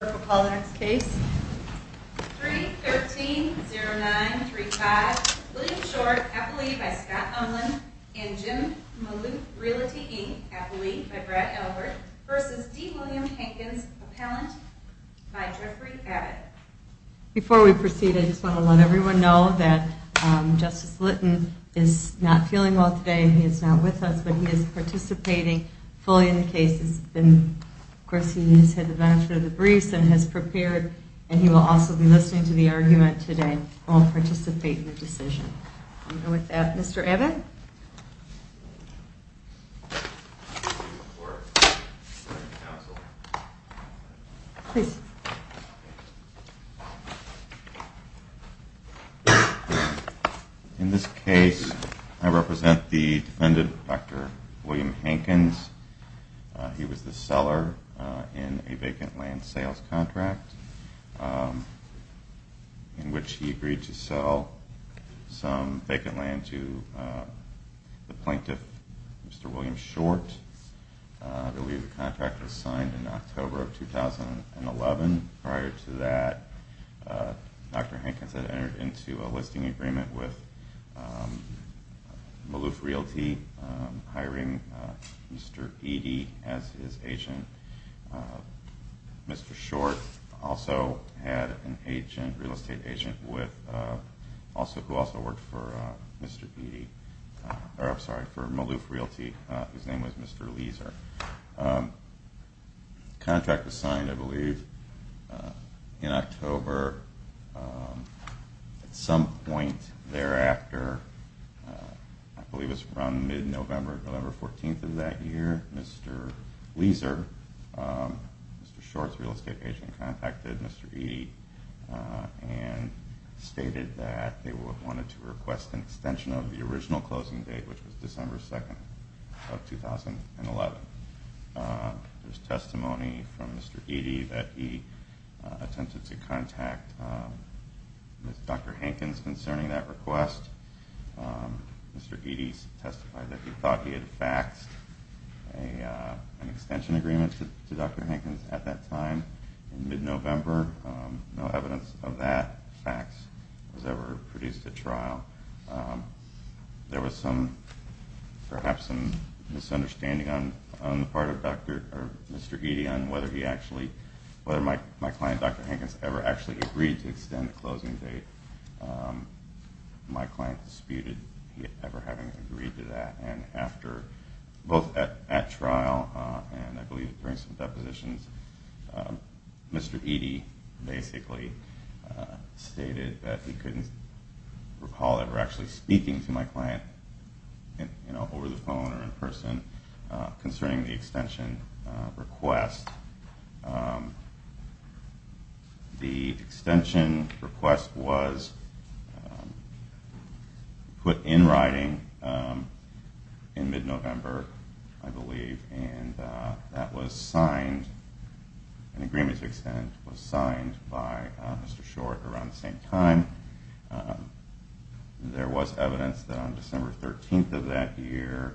Before we proceed, I just want to let everyone know that Justice Litton is not feeling well today. He is not with us, but he is participating fully in the case. Of course, he has had the briefs and has prepared, and he will also be listening to the argument today and will participate in the decision. Mr. Abbott? In this case, I represent the defendant, Dr. William Hankins. He was the seller in a vacant land sales contract in which he agreed to sell some the plaintiff, Mr. William Short. I believe the contract was signed in October of 2011. Prior to that, Dr. Hankins had entered into a for Maloof Realty. His name was Mr. Leaser. The contract was signed, I believe, in October. At some point thereafter, I believe it was around mid-November, November 14th of that year, Mr. Leaser, Mr. Short's real estate agent, contacted Mr. Eady and stated that they wanted to request an extension of the He had faxed an extension agreement to Dr. Hankins at that time in mid-November. No evidence of that fax was ever produced at trial. There was perhaps some misunderstanding on the part of Mr. Eady on whether my client, Dr. Hankins, ever actually agreed to extend the closing date. My client disputed ever having agreed to that and after, both at trial and I believe during some depositions, Mr. Eady basically stated that he couldn't recall ever actually speaking to my client over the phone or in person concerning the extension request. The extension request was put in writing in mid-November, I believe, and that was signed, an agreement that on December 13th of that year,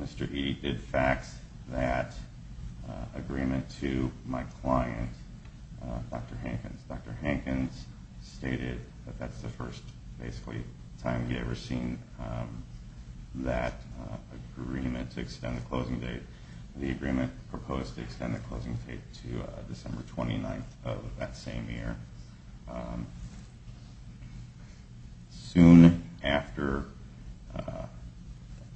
Mr. Eady did fax that agreement to my client, Dr. Hankins. Dr. Hankins stated that that's the first time he had ever seen that agreement to extend the Soon after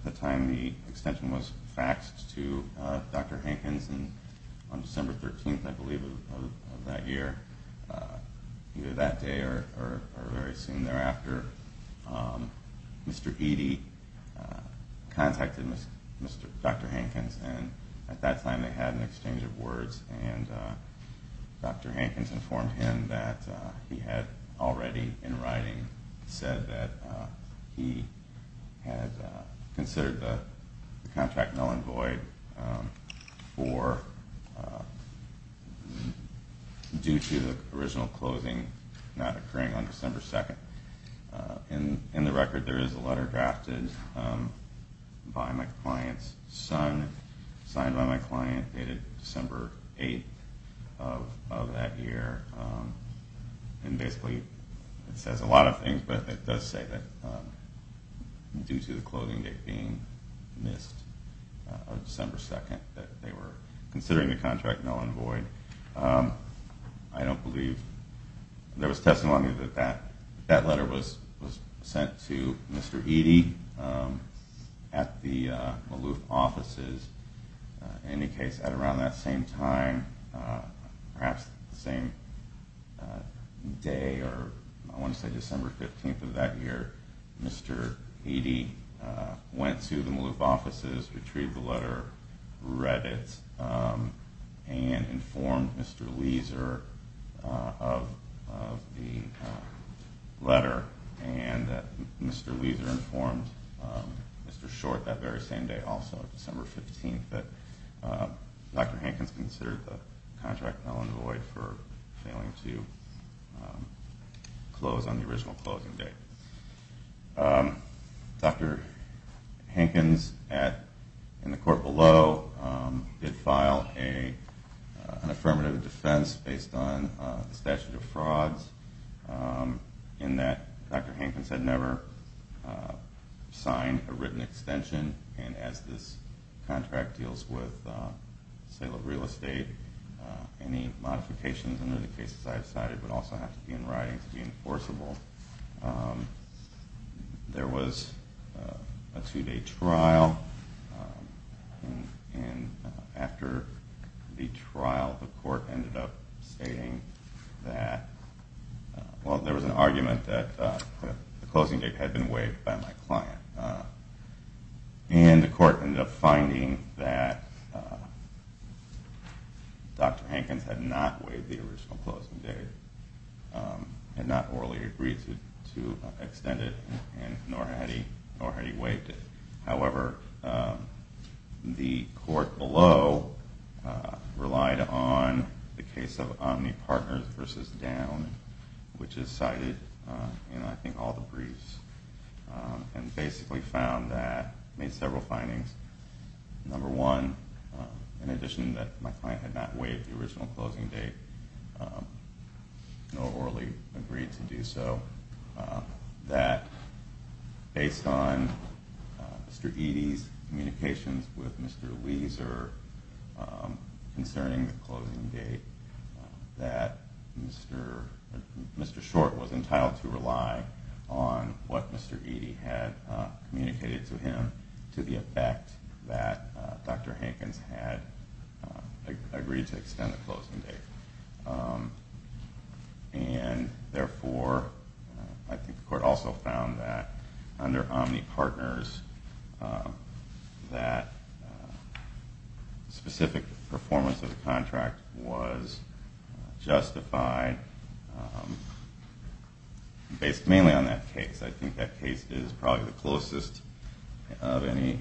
the time the extension was faxed to Dr. Hankins on December 13th of that year, either that day or very soon thereafter, Mr. Eady contacted Dr. Hankins and at that time they had an exchange of words and Dr. Hankins informed him that he had already in writing said that he had considered the contract null and void due to the original closing not occurring on December 2nd. In the record there is a letter drafted by my client's son, signed by my client dated December 8th of that year and basically it says a lot of things but it does say that due to the closing date being missed on December 2nd that they were considering the contract null and void. I don't believe there was testimony that that letter was sent to Mr. Eady at the Maloof offices. In any case, at around that same time, perhaps the same day or I want to say December 15th of that year, Mr. Eady went to the Maloof offices, retrieved the letter, read it, and informed Mr. Leeser of the letter and Mr. Leeser informed Mr. Short that very same day also, December 15th, that Dr. Hankins considered the contract null and void for failing to close on the original closing date. Dr. Hankins in the court below did file an affirmative defense based on the statute of frauds in that Dr. Hankins had never signed a written extension and as this contract deals with real estate, any modifications under the cases I have cited would also have to be in writing to be enforceable. There was a two day trial and after the trial the court ended up saying that, well there was an argument that the closing date had been waived by my client. And the court ended up finding that Dr. Hankins had not waived the original closing date, had not orally agreed to extend it, nor had he waived it. However, the court below relied on the case of OmniPartners v. Down, which is cited in I think all the briefs, and basically found that, made several findings. Number one, in addition that my client had not waived the original closing date, nor orally agreed to do so, that based on Mr. Eady's communications with Mr. Leeser concerning the closing date, that Mr. Short was entitled to rely on what Mr. Eady had communicated to him to the effect that Dr. Hankins had agreed to extend the closing date. And therefore, I think the court also found that under OmniPartners that specific performance of the contract was justified based mainly on that case. I think that case is probably the closest of any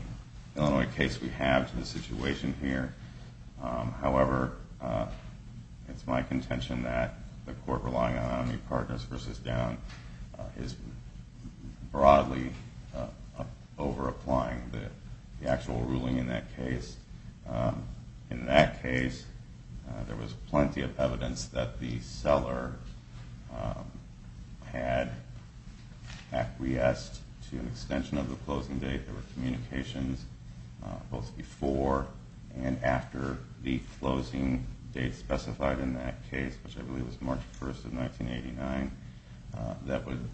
Illinois case we have to the situation here. However, it's my contention that the court relying on OmniPartners v. Down is broadly overapplying the actual ruling in that case. In that case, there was plenty of evidence that the seller had acquiesced to an extension of the closing date. There were communications both before and after the closing date specified in that case, which I believe was March 1st of 1989, that would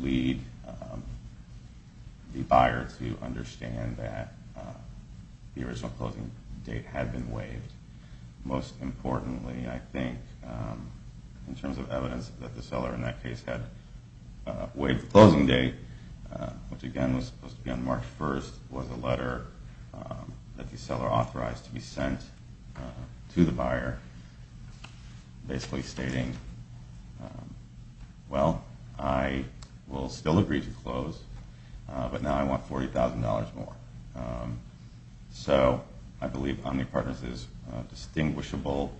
lead the buyer to understand that the original closing date had been waived. Most importantly, I think, in terms of evidence that the seller in that case had waived the closing date, which again was supposed to be on March 1st, was a letter that the seller authorized to be sent to the buyer basically stating, well, I will still agree to close, but now I want $40,000 more. So I believe OmniPartners is distinguishable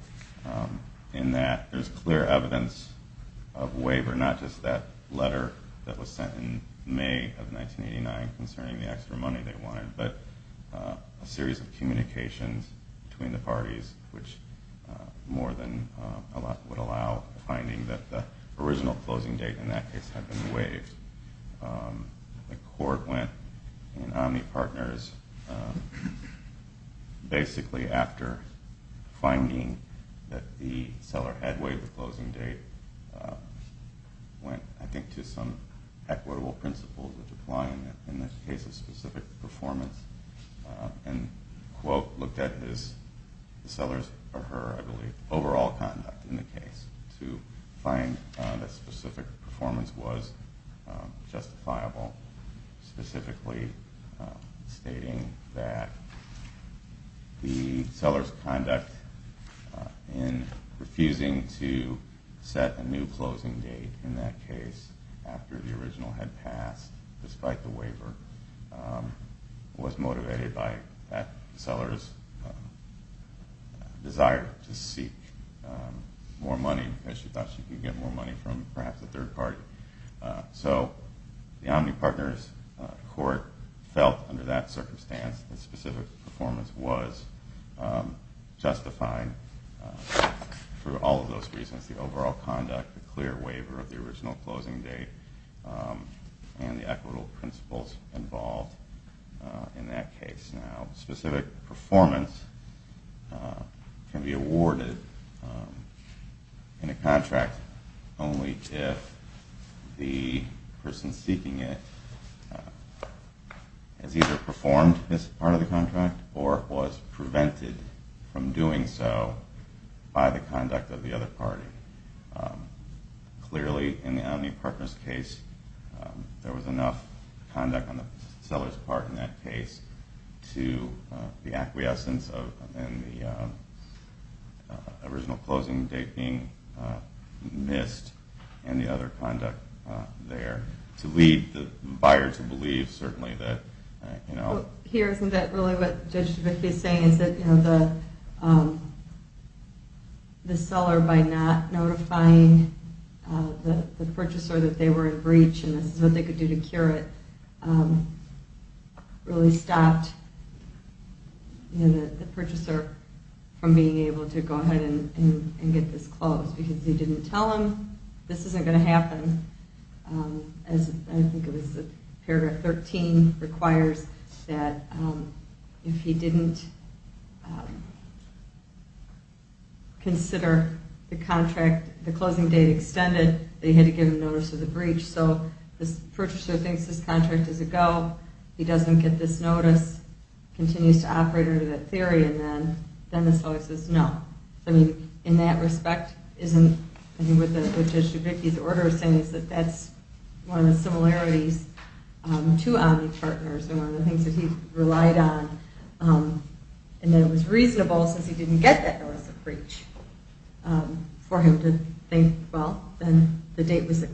in that there is clear evidence of waiver, not just that letter that was sent in May of 1989 concerning the extra money they wanted, but a series of communications between the parties, which more than a lot would allow finding that the original closing date in that case had been waived. The court went in OmniPartners basically after finding that the seller had waived the closing date, went, I think, to some equitable principles which apply in the case of specific performance, and, quote, looked at his, the seller's, or her, I believe, overall conduct in the case to find that specific performance was justifiable, specifically stating that the seller's conduct in refusing to set a new closing date in that case after the original had passed, despite the waiver, was motivated by that seller's desire to seek more money because she thought she could get more money from perhaps a third party. So the OmniPartners court felt under that circumstance that specific performance was justified for all of those reasons, the overall conduct, the clear waiver of the original closing date, and the equitable principles involved in that case. Now specific performance can be awarded in a contract only if the person seeking it has either performed this part of the contract or was prevented from doing so by the conduct of the other party. Clearly, in the OmniPartners case, there was enough conduct on the seller's part in that case to the acquiescence of the original closing date being missed and the other conduct there to lead the buyer to believe certainly that, you know... Notifying the purchaser that they were in breach and this is what they could do to cure it really stopped the purchaser from being able to go ahead and get this closed because he didn't tell them this isn't going to happen. As I think it was paragraph 13 requires that if he didn't consider the contract, the closing date extended, they had to give him notice of the breach. So this purchaser thinks this contract is a go, he doesn't get this notice, continues to operate under that theory, and then the seller says no. In that respect, I think what Judge Dubicki's order is saying is that that's one of the similarities to OmniPartners and one of the things that he relied on and that it was reasonable since he didn't get that notice of breach for him to think, well, then the date was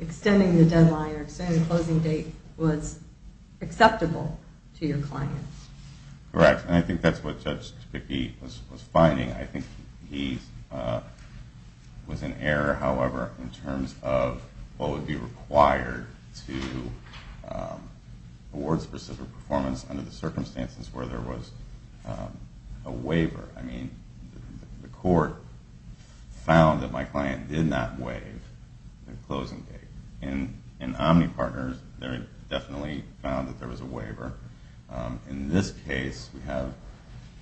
extending the deadline or extending the closing date was acceptable to your client. Correct, and I think that's what Judge Dubicki was finding. I think he was in error, however, in terms of what would be required to award specific performance under the circumstances where there was a waiver. I mean, the court found that my client did not waive the closing date. In OmniPartners, they definitely found that there was a waiver. In this case, we have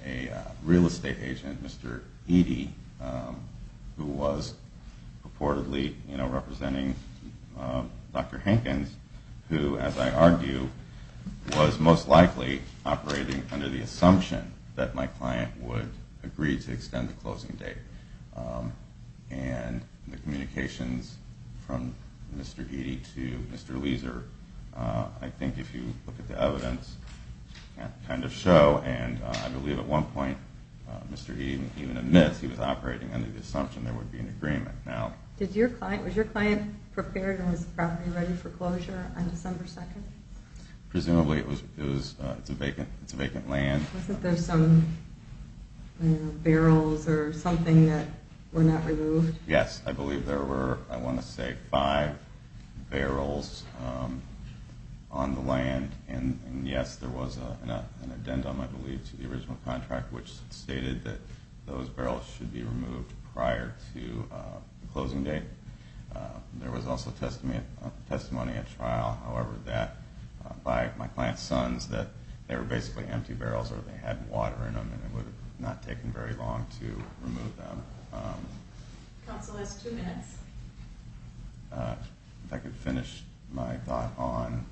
a real estate agent, Mr. Eady, who was purportedly representing Dr. Hankins, who, as I argue, was most likely operating under the assumption that my client would have a waiver. My client agreed to extend the closing date, and the communications from Mr. Eady to Mr. Leeser, I think if you look at the evidence, kind of show, and I believe at one point, Mr. Eady even admits he was operating under the assumption that there would be an agreement. Was your client prepared and was probably ready for closure on December 2nd? Presumably. It's a vacant land. Was it that there were some barrels or something that were not removed? Counsel has two minutes. If I could finish my thought on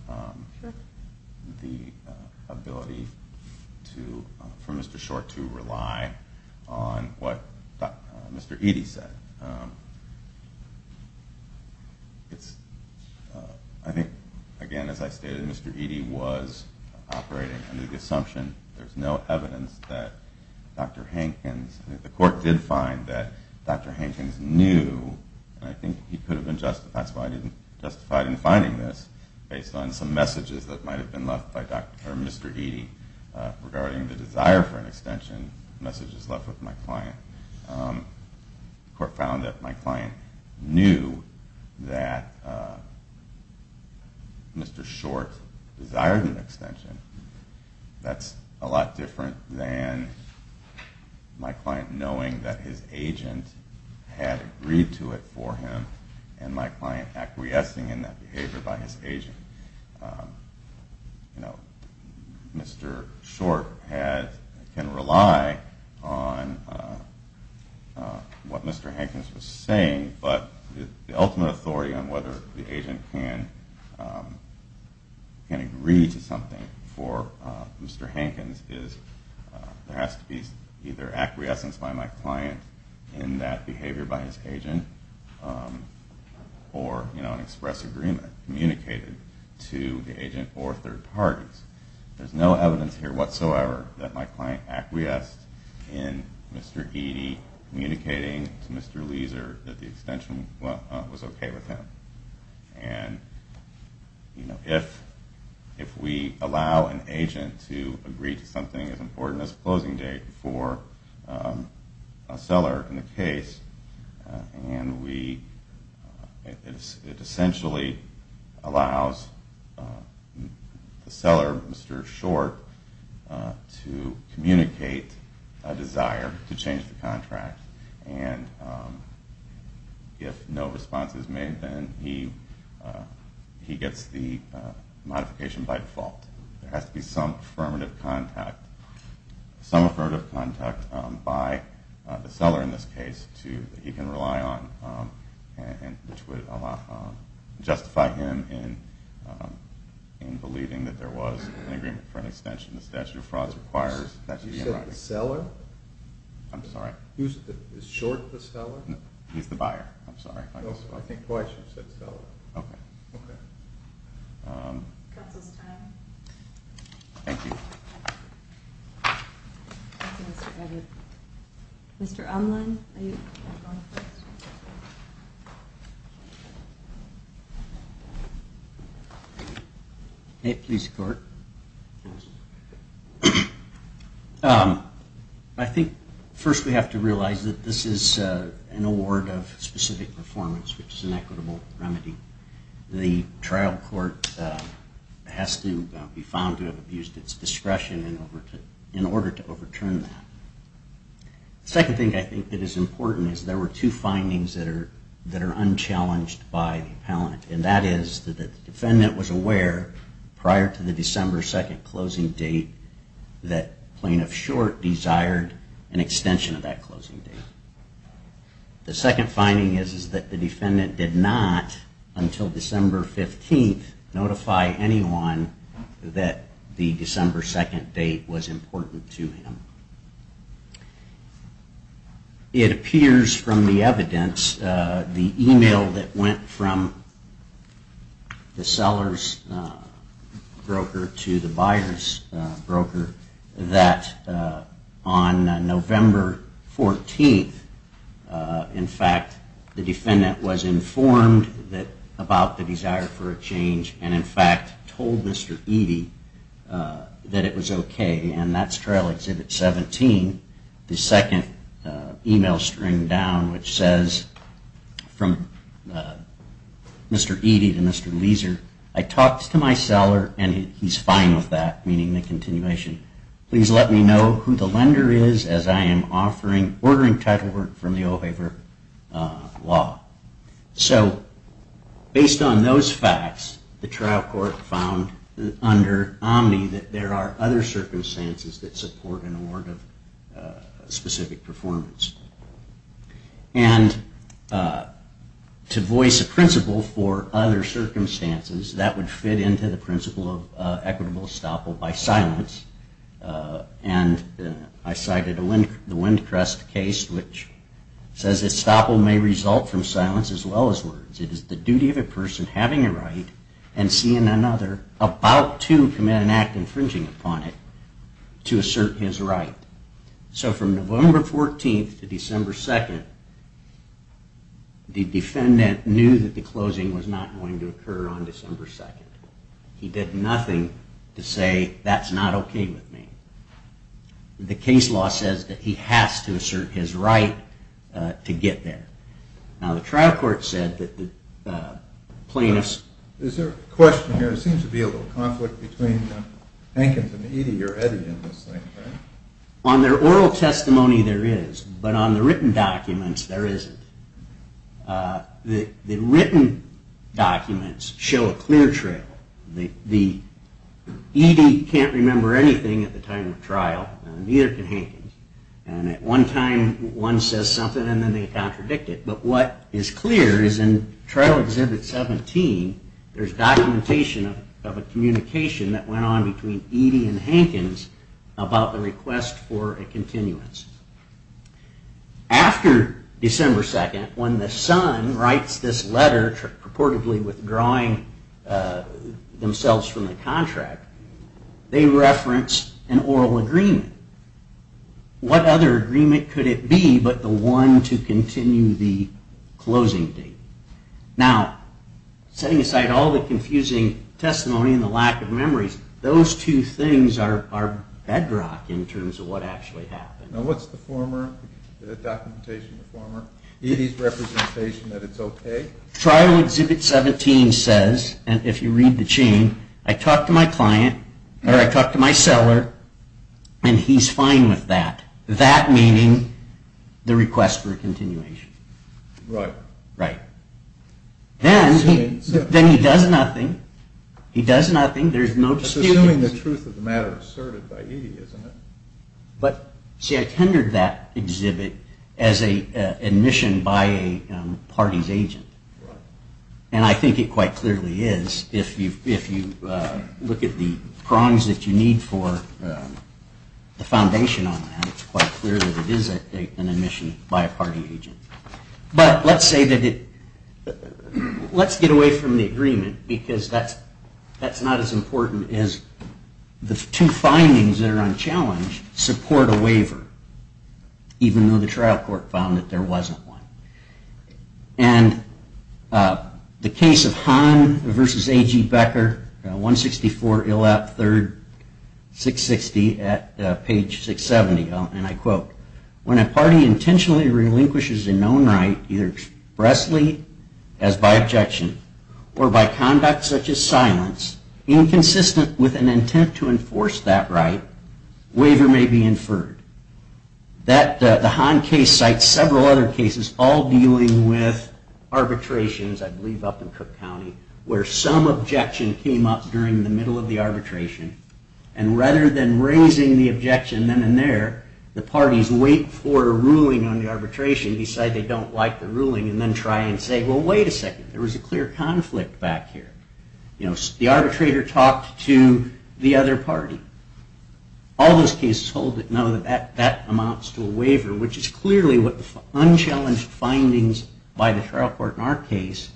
the ability for Mr. Short to rely on what Mr. Eady said. I think, again, as I stated, Mr. Eady was operating under the assumption. There's no evidence that Dr. Hankins, the court did find that Dr. Hankins knew, and I think he could have been justified in finding this based on some messages that might have been left by Mr. Eady regarding the desire for an extension messages left with my client. The court found that my client knew that Mr. Short desired an extension. That's a lot different than my client knowing that his agent had agreed to it for him and my client acquiescing in that behavior by his agent. I don't think Mr. Short can rely on what Mr. Hankins was saying, but the ultimate authority on whether the agent can agree to something for Mr. Hankins is there has to be either acquiescence by my client in that behavior by his agent, or an express agreement communicated to the agent or third parties. There's no evidence here whatsoever that my client acquiesced in Mr. Eady communicating to Mr. Leeser that the extension was okay with him. If we allow an agent to agree to something as important as a closing date for a seller in the case, it essentially allows the seller, Mr. Short, to communicate a desire to change the contract. If no response is made, then he gets the modification by default. There has to be some affirmative contact by the seller in this case that he can rely on, which would justify him in believing that there was an agreement for an extension. You said the seller? I'm sorry. Is Short the seller? No, he's the buyer. I'm sorry. I think why I should have said seller. Okay. Okay. Thank you. Thank you, Mr. Eady. Mr. Umlund? I think first we have to realize that this is an award of specific performance, which is an equitable remedy. The trial court has to be found to have abused its discretion in order to overturn that. The second thing I think that is important is there were two findings that are unchallenged by the appellant, and that is that the defendant was aware prior to the December 2nd closing date that plaintiff Short desired an extension of that closing date. The second finding is that the defendant did not, until December 15th, notify anyone that the December 2nd date was important to him. It appears from the evidence, the email that went from the seller's broker to the buyer's broker, that on November 14th, in fact, the defendant was informed about the desire for a change and in fact told Mr. Eady that it was okay. And that's Trial Exhibit 17, the second email string down, which says from Mr. Eady to Mr. Leiser, I talked to my seller and he's fine with that, meaning the continuation. Please let me know who the lender is, as I am ordering title work from the O'Haver Law. So based on those facts, the trial court found under Omni that there are other circumstances that support an award of specific performance. And to voice a principle for other circumstances, that would fit into the principle of equitable estoppel by silence. And I cited the Windcrest case, which says estoppel may result from silence as well as words. It is the duty of a person having a right and seeing another about to commit an act infringing upon it to assert his right. So from November 14th to December 2nd, the defendant knew that the closing was not going to occur on December 2nd. He did nothing to say that's not okay with me. The case law says that he has to assert his right to get there. Now the trial court said that the plaintiff's... Is there a question here? It seems to be a little conflict between Hankins and Eady or Eddy in this thing, right? On their oral testimony there is, but on the written documents there isn't. The written documents show a clear trail. The Eady can't remember anything at the time of trial and neither can Hankins. And at one time one says something and then they contradict it. But what is clear is in trial exhibit 17, there's documentation of a communication that went on between Eady and Hankins about the request for a continuance. After December 2nd when the son writes this letter purportedly withdrawing themselves from the contract, they reference an oral agreement. What other agreement could it be but the one to continue the closing date? Now setting aside all the confusing testimony and the lack of memories, those two things are bedrock in terms of what actually happened. Now what's the former? The documentation of the former? Eady's representation that it's okay? Trial exhibit 17 says, and if you read the chain, I talked to my client, or I talked to my seller, and he's fine with that. That meaning the request for a continuation. Right. Right. Then he does nothing. He does nothing. There's no dispute. That's assuming the truth of the matter is asserted by Eady, isn't it? See, I tendered that exhibit as an admission by a party's agent. Right. And I think it quite clearly is. If you look at the prongs that you need for the foundation on that, it's quite clear that it is an admission by a party agent. But let's get away from the agreement, because that's not as important as the two findings that are on challenge support a waiver, even though the trial court found that there wasn't one. And the case of Hahn v. A.G. Becker, 164 Illap III, 660 at page 670, and I quote, when a party intentionally relinquishes a known right, either expressly, as by objection, or by conduct such as silence, inconsistent with an intent to enforce that right, waiver may be inferred. The Hahn case cites several other cases, all dealing with arbitrations, I believe, up in Cook County, where some objection came up during the middle of the arbitration, and rather than raising the objection then and there, the parties wait for a ruling on the arbitration, decide they don't like the ruling, and then try and say, well, wait a second, there was a clear conflict back here. The arbitrator talked to the other party. All those cases hold that no, that amounts to a waiver, which is clearly what the unchallenged findings by the trial court in our case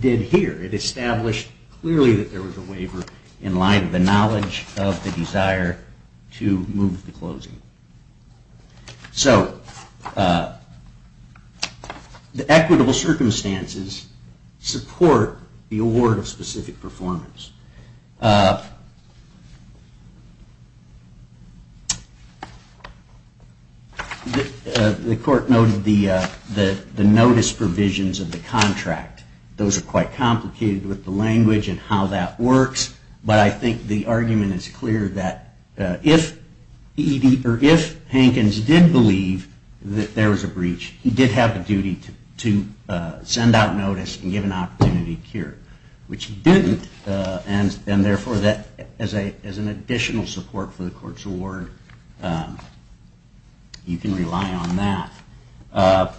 did here. It established clearly that there was a waiver in light of the knowledge of the desire to move to closing. So the equitable circumstances support the award of specific performance. The court noted the notice provisions of the contract. Those are quite complicated with the language and how that works, but I think the argument is clear that if Hankins did believe that there was a breach, he did have a duty to send out notice and give an opportunity to cure it, which he didn't, and therefore, as an additional support for the court's award, you can rely on that.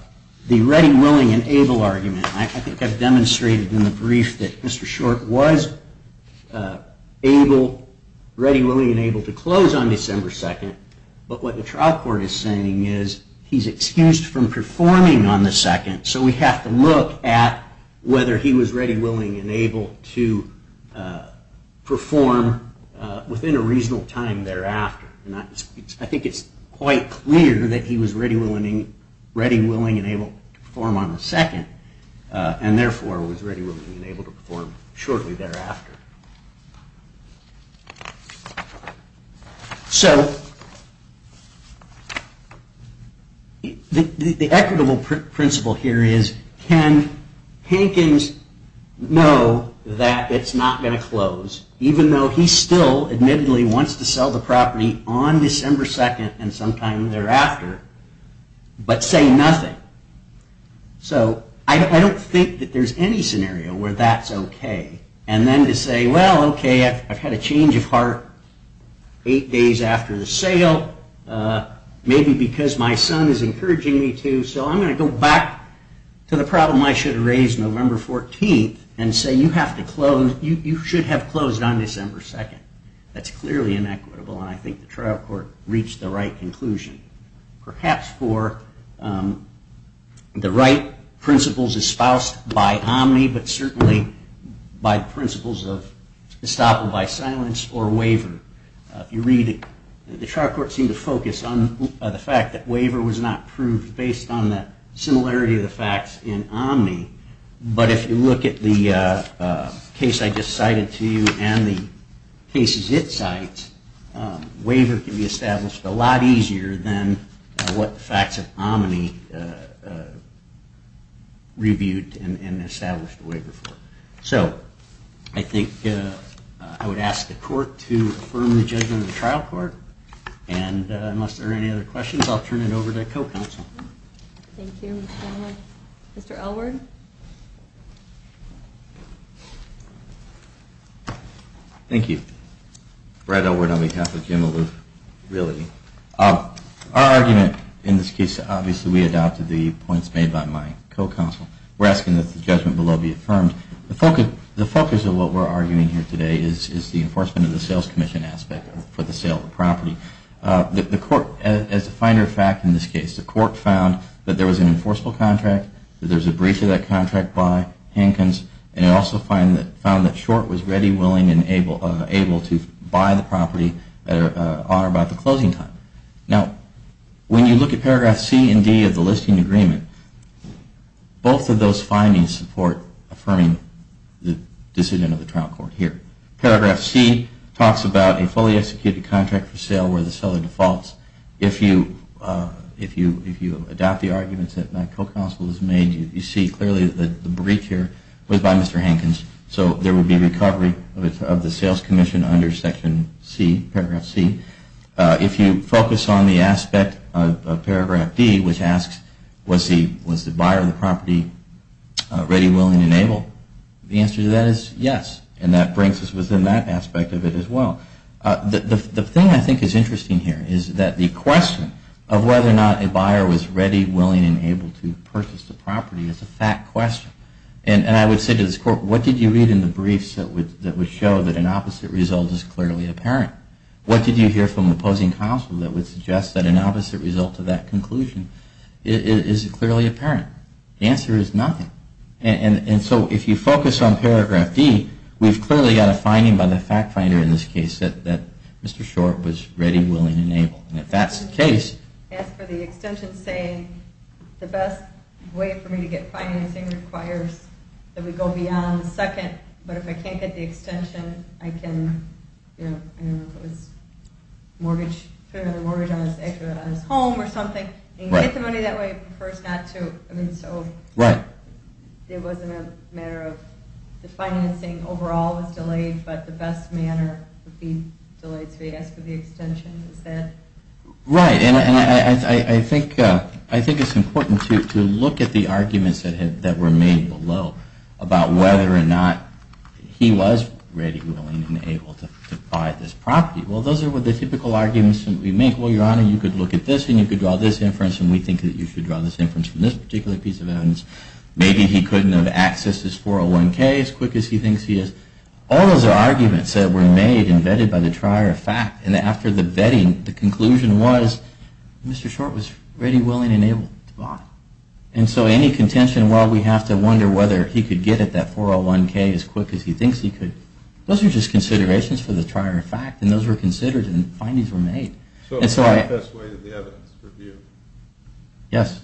The ready, willing, and able argument. I think I've demonstrated in the brief that Mr. Short was ready, willing, and able to close on December 2nd, but what the trial court is saying is he's excused from performing on the 2nd, so we have to look at whether he was ready, willing, and able to perform within a reasonable time thereafter. I think it's quite clear that he was ready, willing, and able to perform on the 2nd, and therefore, was ready, willing, and able to perform shortly thereafter. So the equitable principle here is can Hankins know that it's not going to close, even though he still admittedly wants to sell the property on December 2nd and sometime thereafter, but say nothing? So I don't think that there's any scenario where that's OK. And then to say, well, OK, I've had a change of heart eight days after the sale, maybe because my son is encouraging me to, so I'm going to go back to the problem I should have raised November 14th and say you should have closed on December 2nd. That's clearly inequitable, and I think the trial court reached the right conclusion. Perhaps for the right principles espoused by Omni, but certainly by the principles of estoppel by silence or waiver. If you read it, the trial court seemed to focus on the fact that waiver was not proved based on the similarity of the facts in Omni, but if you look at the case I just cited to you and the cases it cites, waiver can be established a lot easier than what the facts of Omni reviewed and established a waiver for. So I think I would ask the court to affirm the judgment of the trial court, and unless there are any other questions, I'll turn it over to the co-counsel. Thank you, Mr. Elwood. Mr. Elwood? Thank you. Brad Elwood on behalf of Jim Alou. Our argument in this case, obviously we adopted the points made by my co-counsel. We're asking that the judgment below be affirmed. The focus of what we're arguing here today is the enforcement of the sales commission aspect for the sale of the property. As a finer fact in this case, the court found that there was an enforceable contract, that there was a breach of that contract by Hankins, and it also found that Short was ready, willing, and able to buy the property on or about the closing time. Now, when you look at paragraph C and D of the listing agreement, both of those findings support affirming the decision of the trial court here. Paragraph C talks about a fully executed contract for sale where the seller defaults. If you adopt the arguments that my co-counsel has made, you see clearly that the breach here was by Mr. Hankins, so there would be recovery of the sales commission under section C, paragraph C. If you focus on the aspect of paragraph D, which asks, was the buyer of the property ready, willing, and able, the answer to that is yes, and that brings us within that aspect of it as well. The thing I think is interesting here is that the question of whether or not a buyer was ready, willing, and able to purchase the property is a fact question. And I would say to this court, what did you read in the briefs that would show that an opposite result is clearly apparent? What did you hear from opposing counsel that would suggest that an opposite result to that conclusion is clearly apparent? The answer is nothing. And so if you focus on paragraph D, we've clearly got a finding by the fact finder in this case that Mr. Short was ready, willing, and able. And if that's the case... As for the extension saying the best way for me to get financing requires that we go beyond the second, but if I can't get the extension, I can, you know, mortgage on his home or something. Right. It wasn't a matter of the financing overall was delayed, but the best manner would be to ask for the extension instead. Right. And I think it's important to look at the arguments that were made below about whether or not he was ready, willing, and able to buy this property. Well, those are the typical arguments that we make. Well, Your Honor, you could look at this, and you could draw this inference, and we think that you should draw this inference from this particular piece of evidence. Maybe he couldn't have accessed this 401k as quick as he thinks he is. All those arguments that were made and vetted by the trier of fact, and after the vetting, the conclusion was Mr. Short was ready, willing, and able to buy. And so any contention, well, we have to wonder whether he could get at that 401k as quick as he thinks he could. Those are just considerations for the trier of fact, and those were considered and findings were made. So the best way is the evidence review. Yes.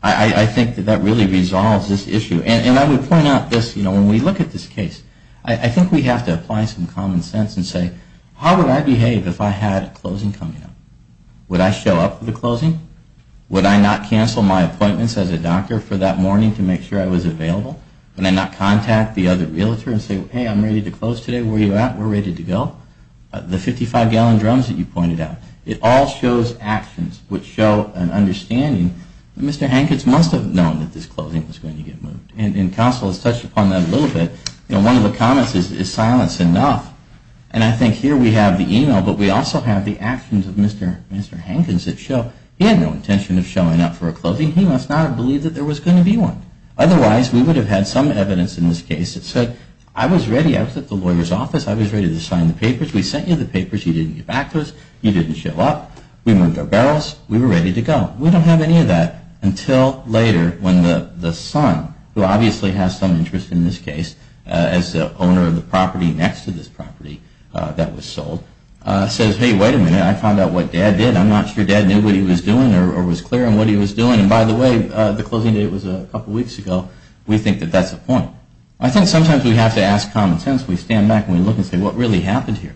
I think that that really resolves this issue. And I would point out this, you know, when we look at this case, I think we have to apply some common sense and say, how would I behave if I had a closing coming up? Would I show up for the closing? Would I not cancel my appointments as a doctor for that morning to make sure I was available? Would I not contact the other realtor and say, hey, I'm ready to close today. Where are you at? We're ready to go. The 55-gallon drums that you pointed out, it all shows actions which show an understanding that Mr. Hankins must have known that this closing was going to get moved. And counsel has touched upon that a little bit. You know, one of the comments is, is silence enough? And I think here we have the email, but we also have the actions of Mr. Hankins that show he had no intention of showing up for a closing. He must not have believed that there was going to be one. Otherwise, we would have had some evidence in this case that said, I was ready. I was at the lawyer's office. I was ready to sign the papers. We sent you the papers. You didn't get back to us. You didn't show up. We moved our barrels. We were ready to go. We don't have any of that until later when the son, who obviously has some interest in this case as the owner of the property next to this property that was sold, says, hey, wait a minute. I found out what Dad did. I'm not sure Dad knew what he was doing or was clear on what he was doing. And by the way, the closing date was a couple weeks ago. We think that that's a point. I think sometimes we have to ask common sense. We stand back and we look and say, what really happened here?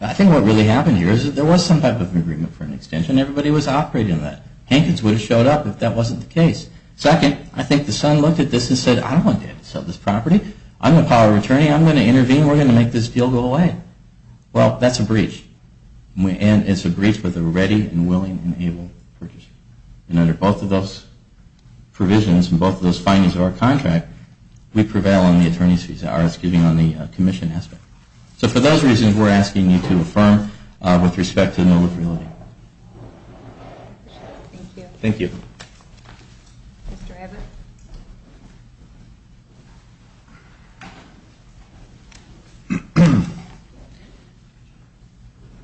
I think what really happened here is that there was some type of agreement for an extension. Everybody was operating on that. Hankins would have showed up if that wasn't the case. Second, I think the son looked at this and said, I don't want Dad to sell this property. I'm the power of attorney. I'm going to intervene. We're going to make this deal go away. Well, that's a breach. And it's a breach with a ready and willing and able purchaser. And under both of those provisions and both of those findings of our contract, we prevail on the attorney's visa, or excuse me, on the commission aspect. So for those reasons, we're asking you to affirm with respect to no liberality. Thank you. Thank you. Mr. Abbott?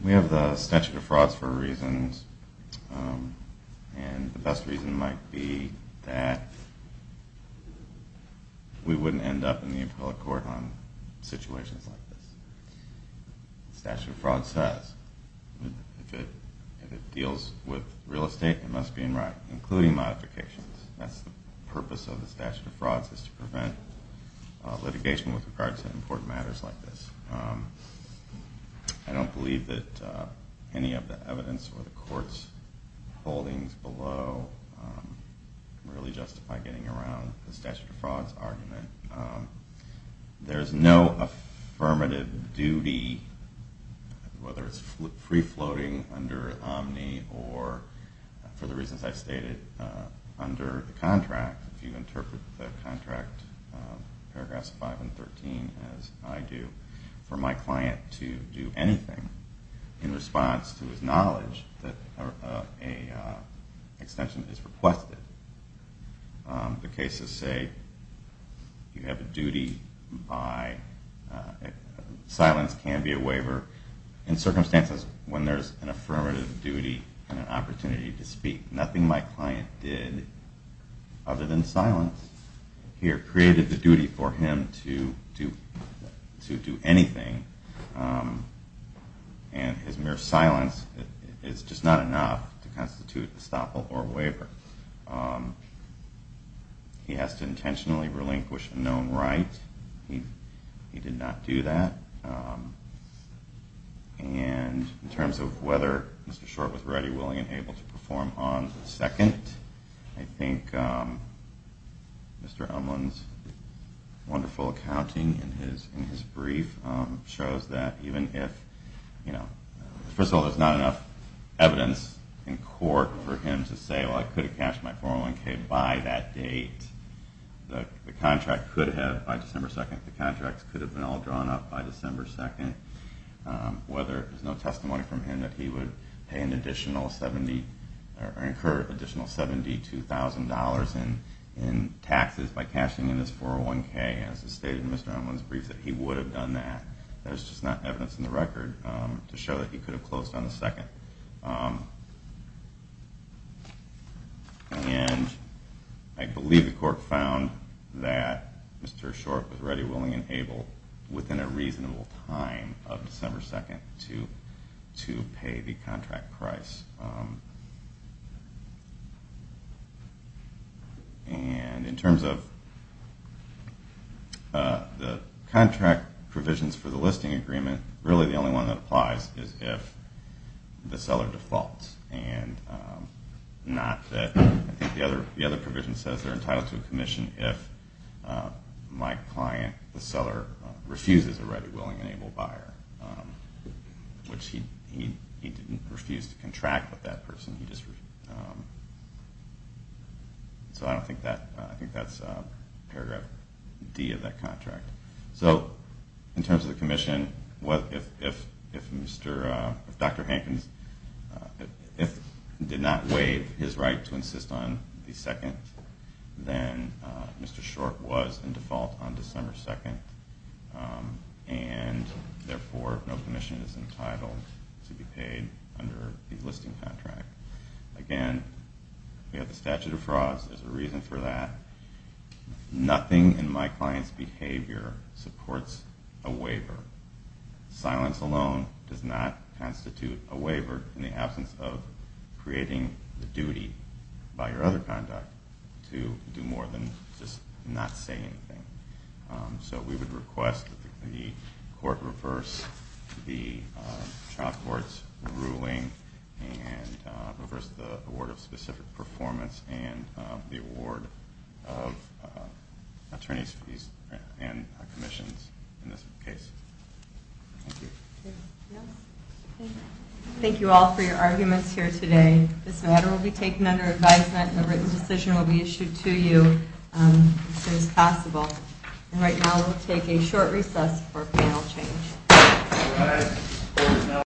We have the statute of frauds for reasons. And the best reason might be that we wouldn't end up in the appellate court on situations like this. The statute of frauds says if it deals with real estate, it must be in writing, including modifications. That's the purpose of the statute of frauds is to prevent litigation with regard to important matters like this. I don't believe that any of the evidence or the court's holdings below really justify getting around the statute of frauds argument. There's no affirmative duty, whether it's free-floating under Omni or, for the reasons I've stated under the contract, if you interpret the contract, paragraphs 5 and 13, as I do, for my client to do anything in response to his knowledge that an extension is requested. The cases say if you have a duty, silence can be a waiver in circumstances when there's an affirmative duty and an opportunity to speak. Nothing my client did other than silence here created the duty for him to do anything, and his mere silence is just not enough to constitute estoppel or waiver. He has to intentionally relinquish a known right. He did not do that. And in terms of whether Mr. Short was ready, willing, and able to perform on the second, I think Mr. Umlund's wonderful accounting in his brief shows that even if, first of all, there's not enough evidence in court for him to say, well, I could have cashed my 401k by that date, the contract could have, by December 2nd, the contract could have been all drawn up by December 2nd, whether there's no testimony from him that he would incur an additional $72,000 in taxes by cashing in his 401k, as stated in Mr. Umlund's brief, that he would have done that. There's just not evidence in the record to show that he could have closed on the second. And I believe the court found that Mr. Short was ready, willing, and able within a reasonable time of December 2nd to pay the contract price. And in terms of the contract provisions for the listing agreement, really the only one that applies is if the seller defaults. And not that the other provision says they're entitled to a commission if my client, the seller, refuses a ready, willing, and able buyer, which he didn't refuse to contract with that person. So I think that's paragraph D of that contract. So in terms of the commission, if Dr. Hankins did not waive his right to insist on the second, then Mr. Short was in default on December 2nd. And therefore, no commission is entitled to be paid under the listing contract. Again, we have the statute of frauds, there's a reason for that. Nothing in my client's behavior supports a waiver. Silence alone does not constitute a waiver in the absence of creating the duty by your other conduct to do more than just not say anything. So we would request that the court reverse the child court's ruling and reverse the award of specific performance and the award of attorney's fees and commissions in this case. Thank you all for your arguments here today. This matter will be taken under advisement and a written decision will be issued to you as soon as possible. And right now we'll take a short recess for panel change.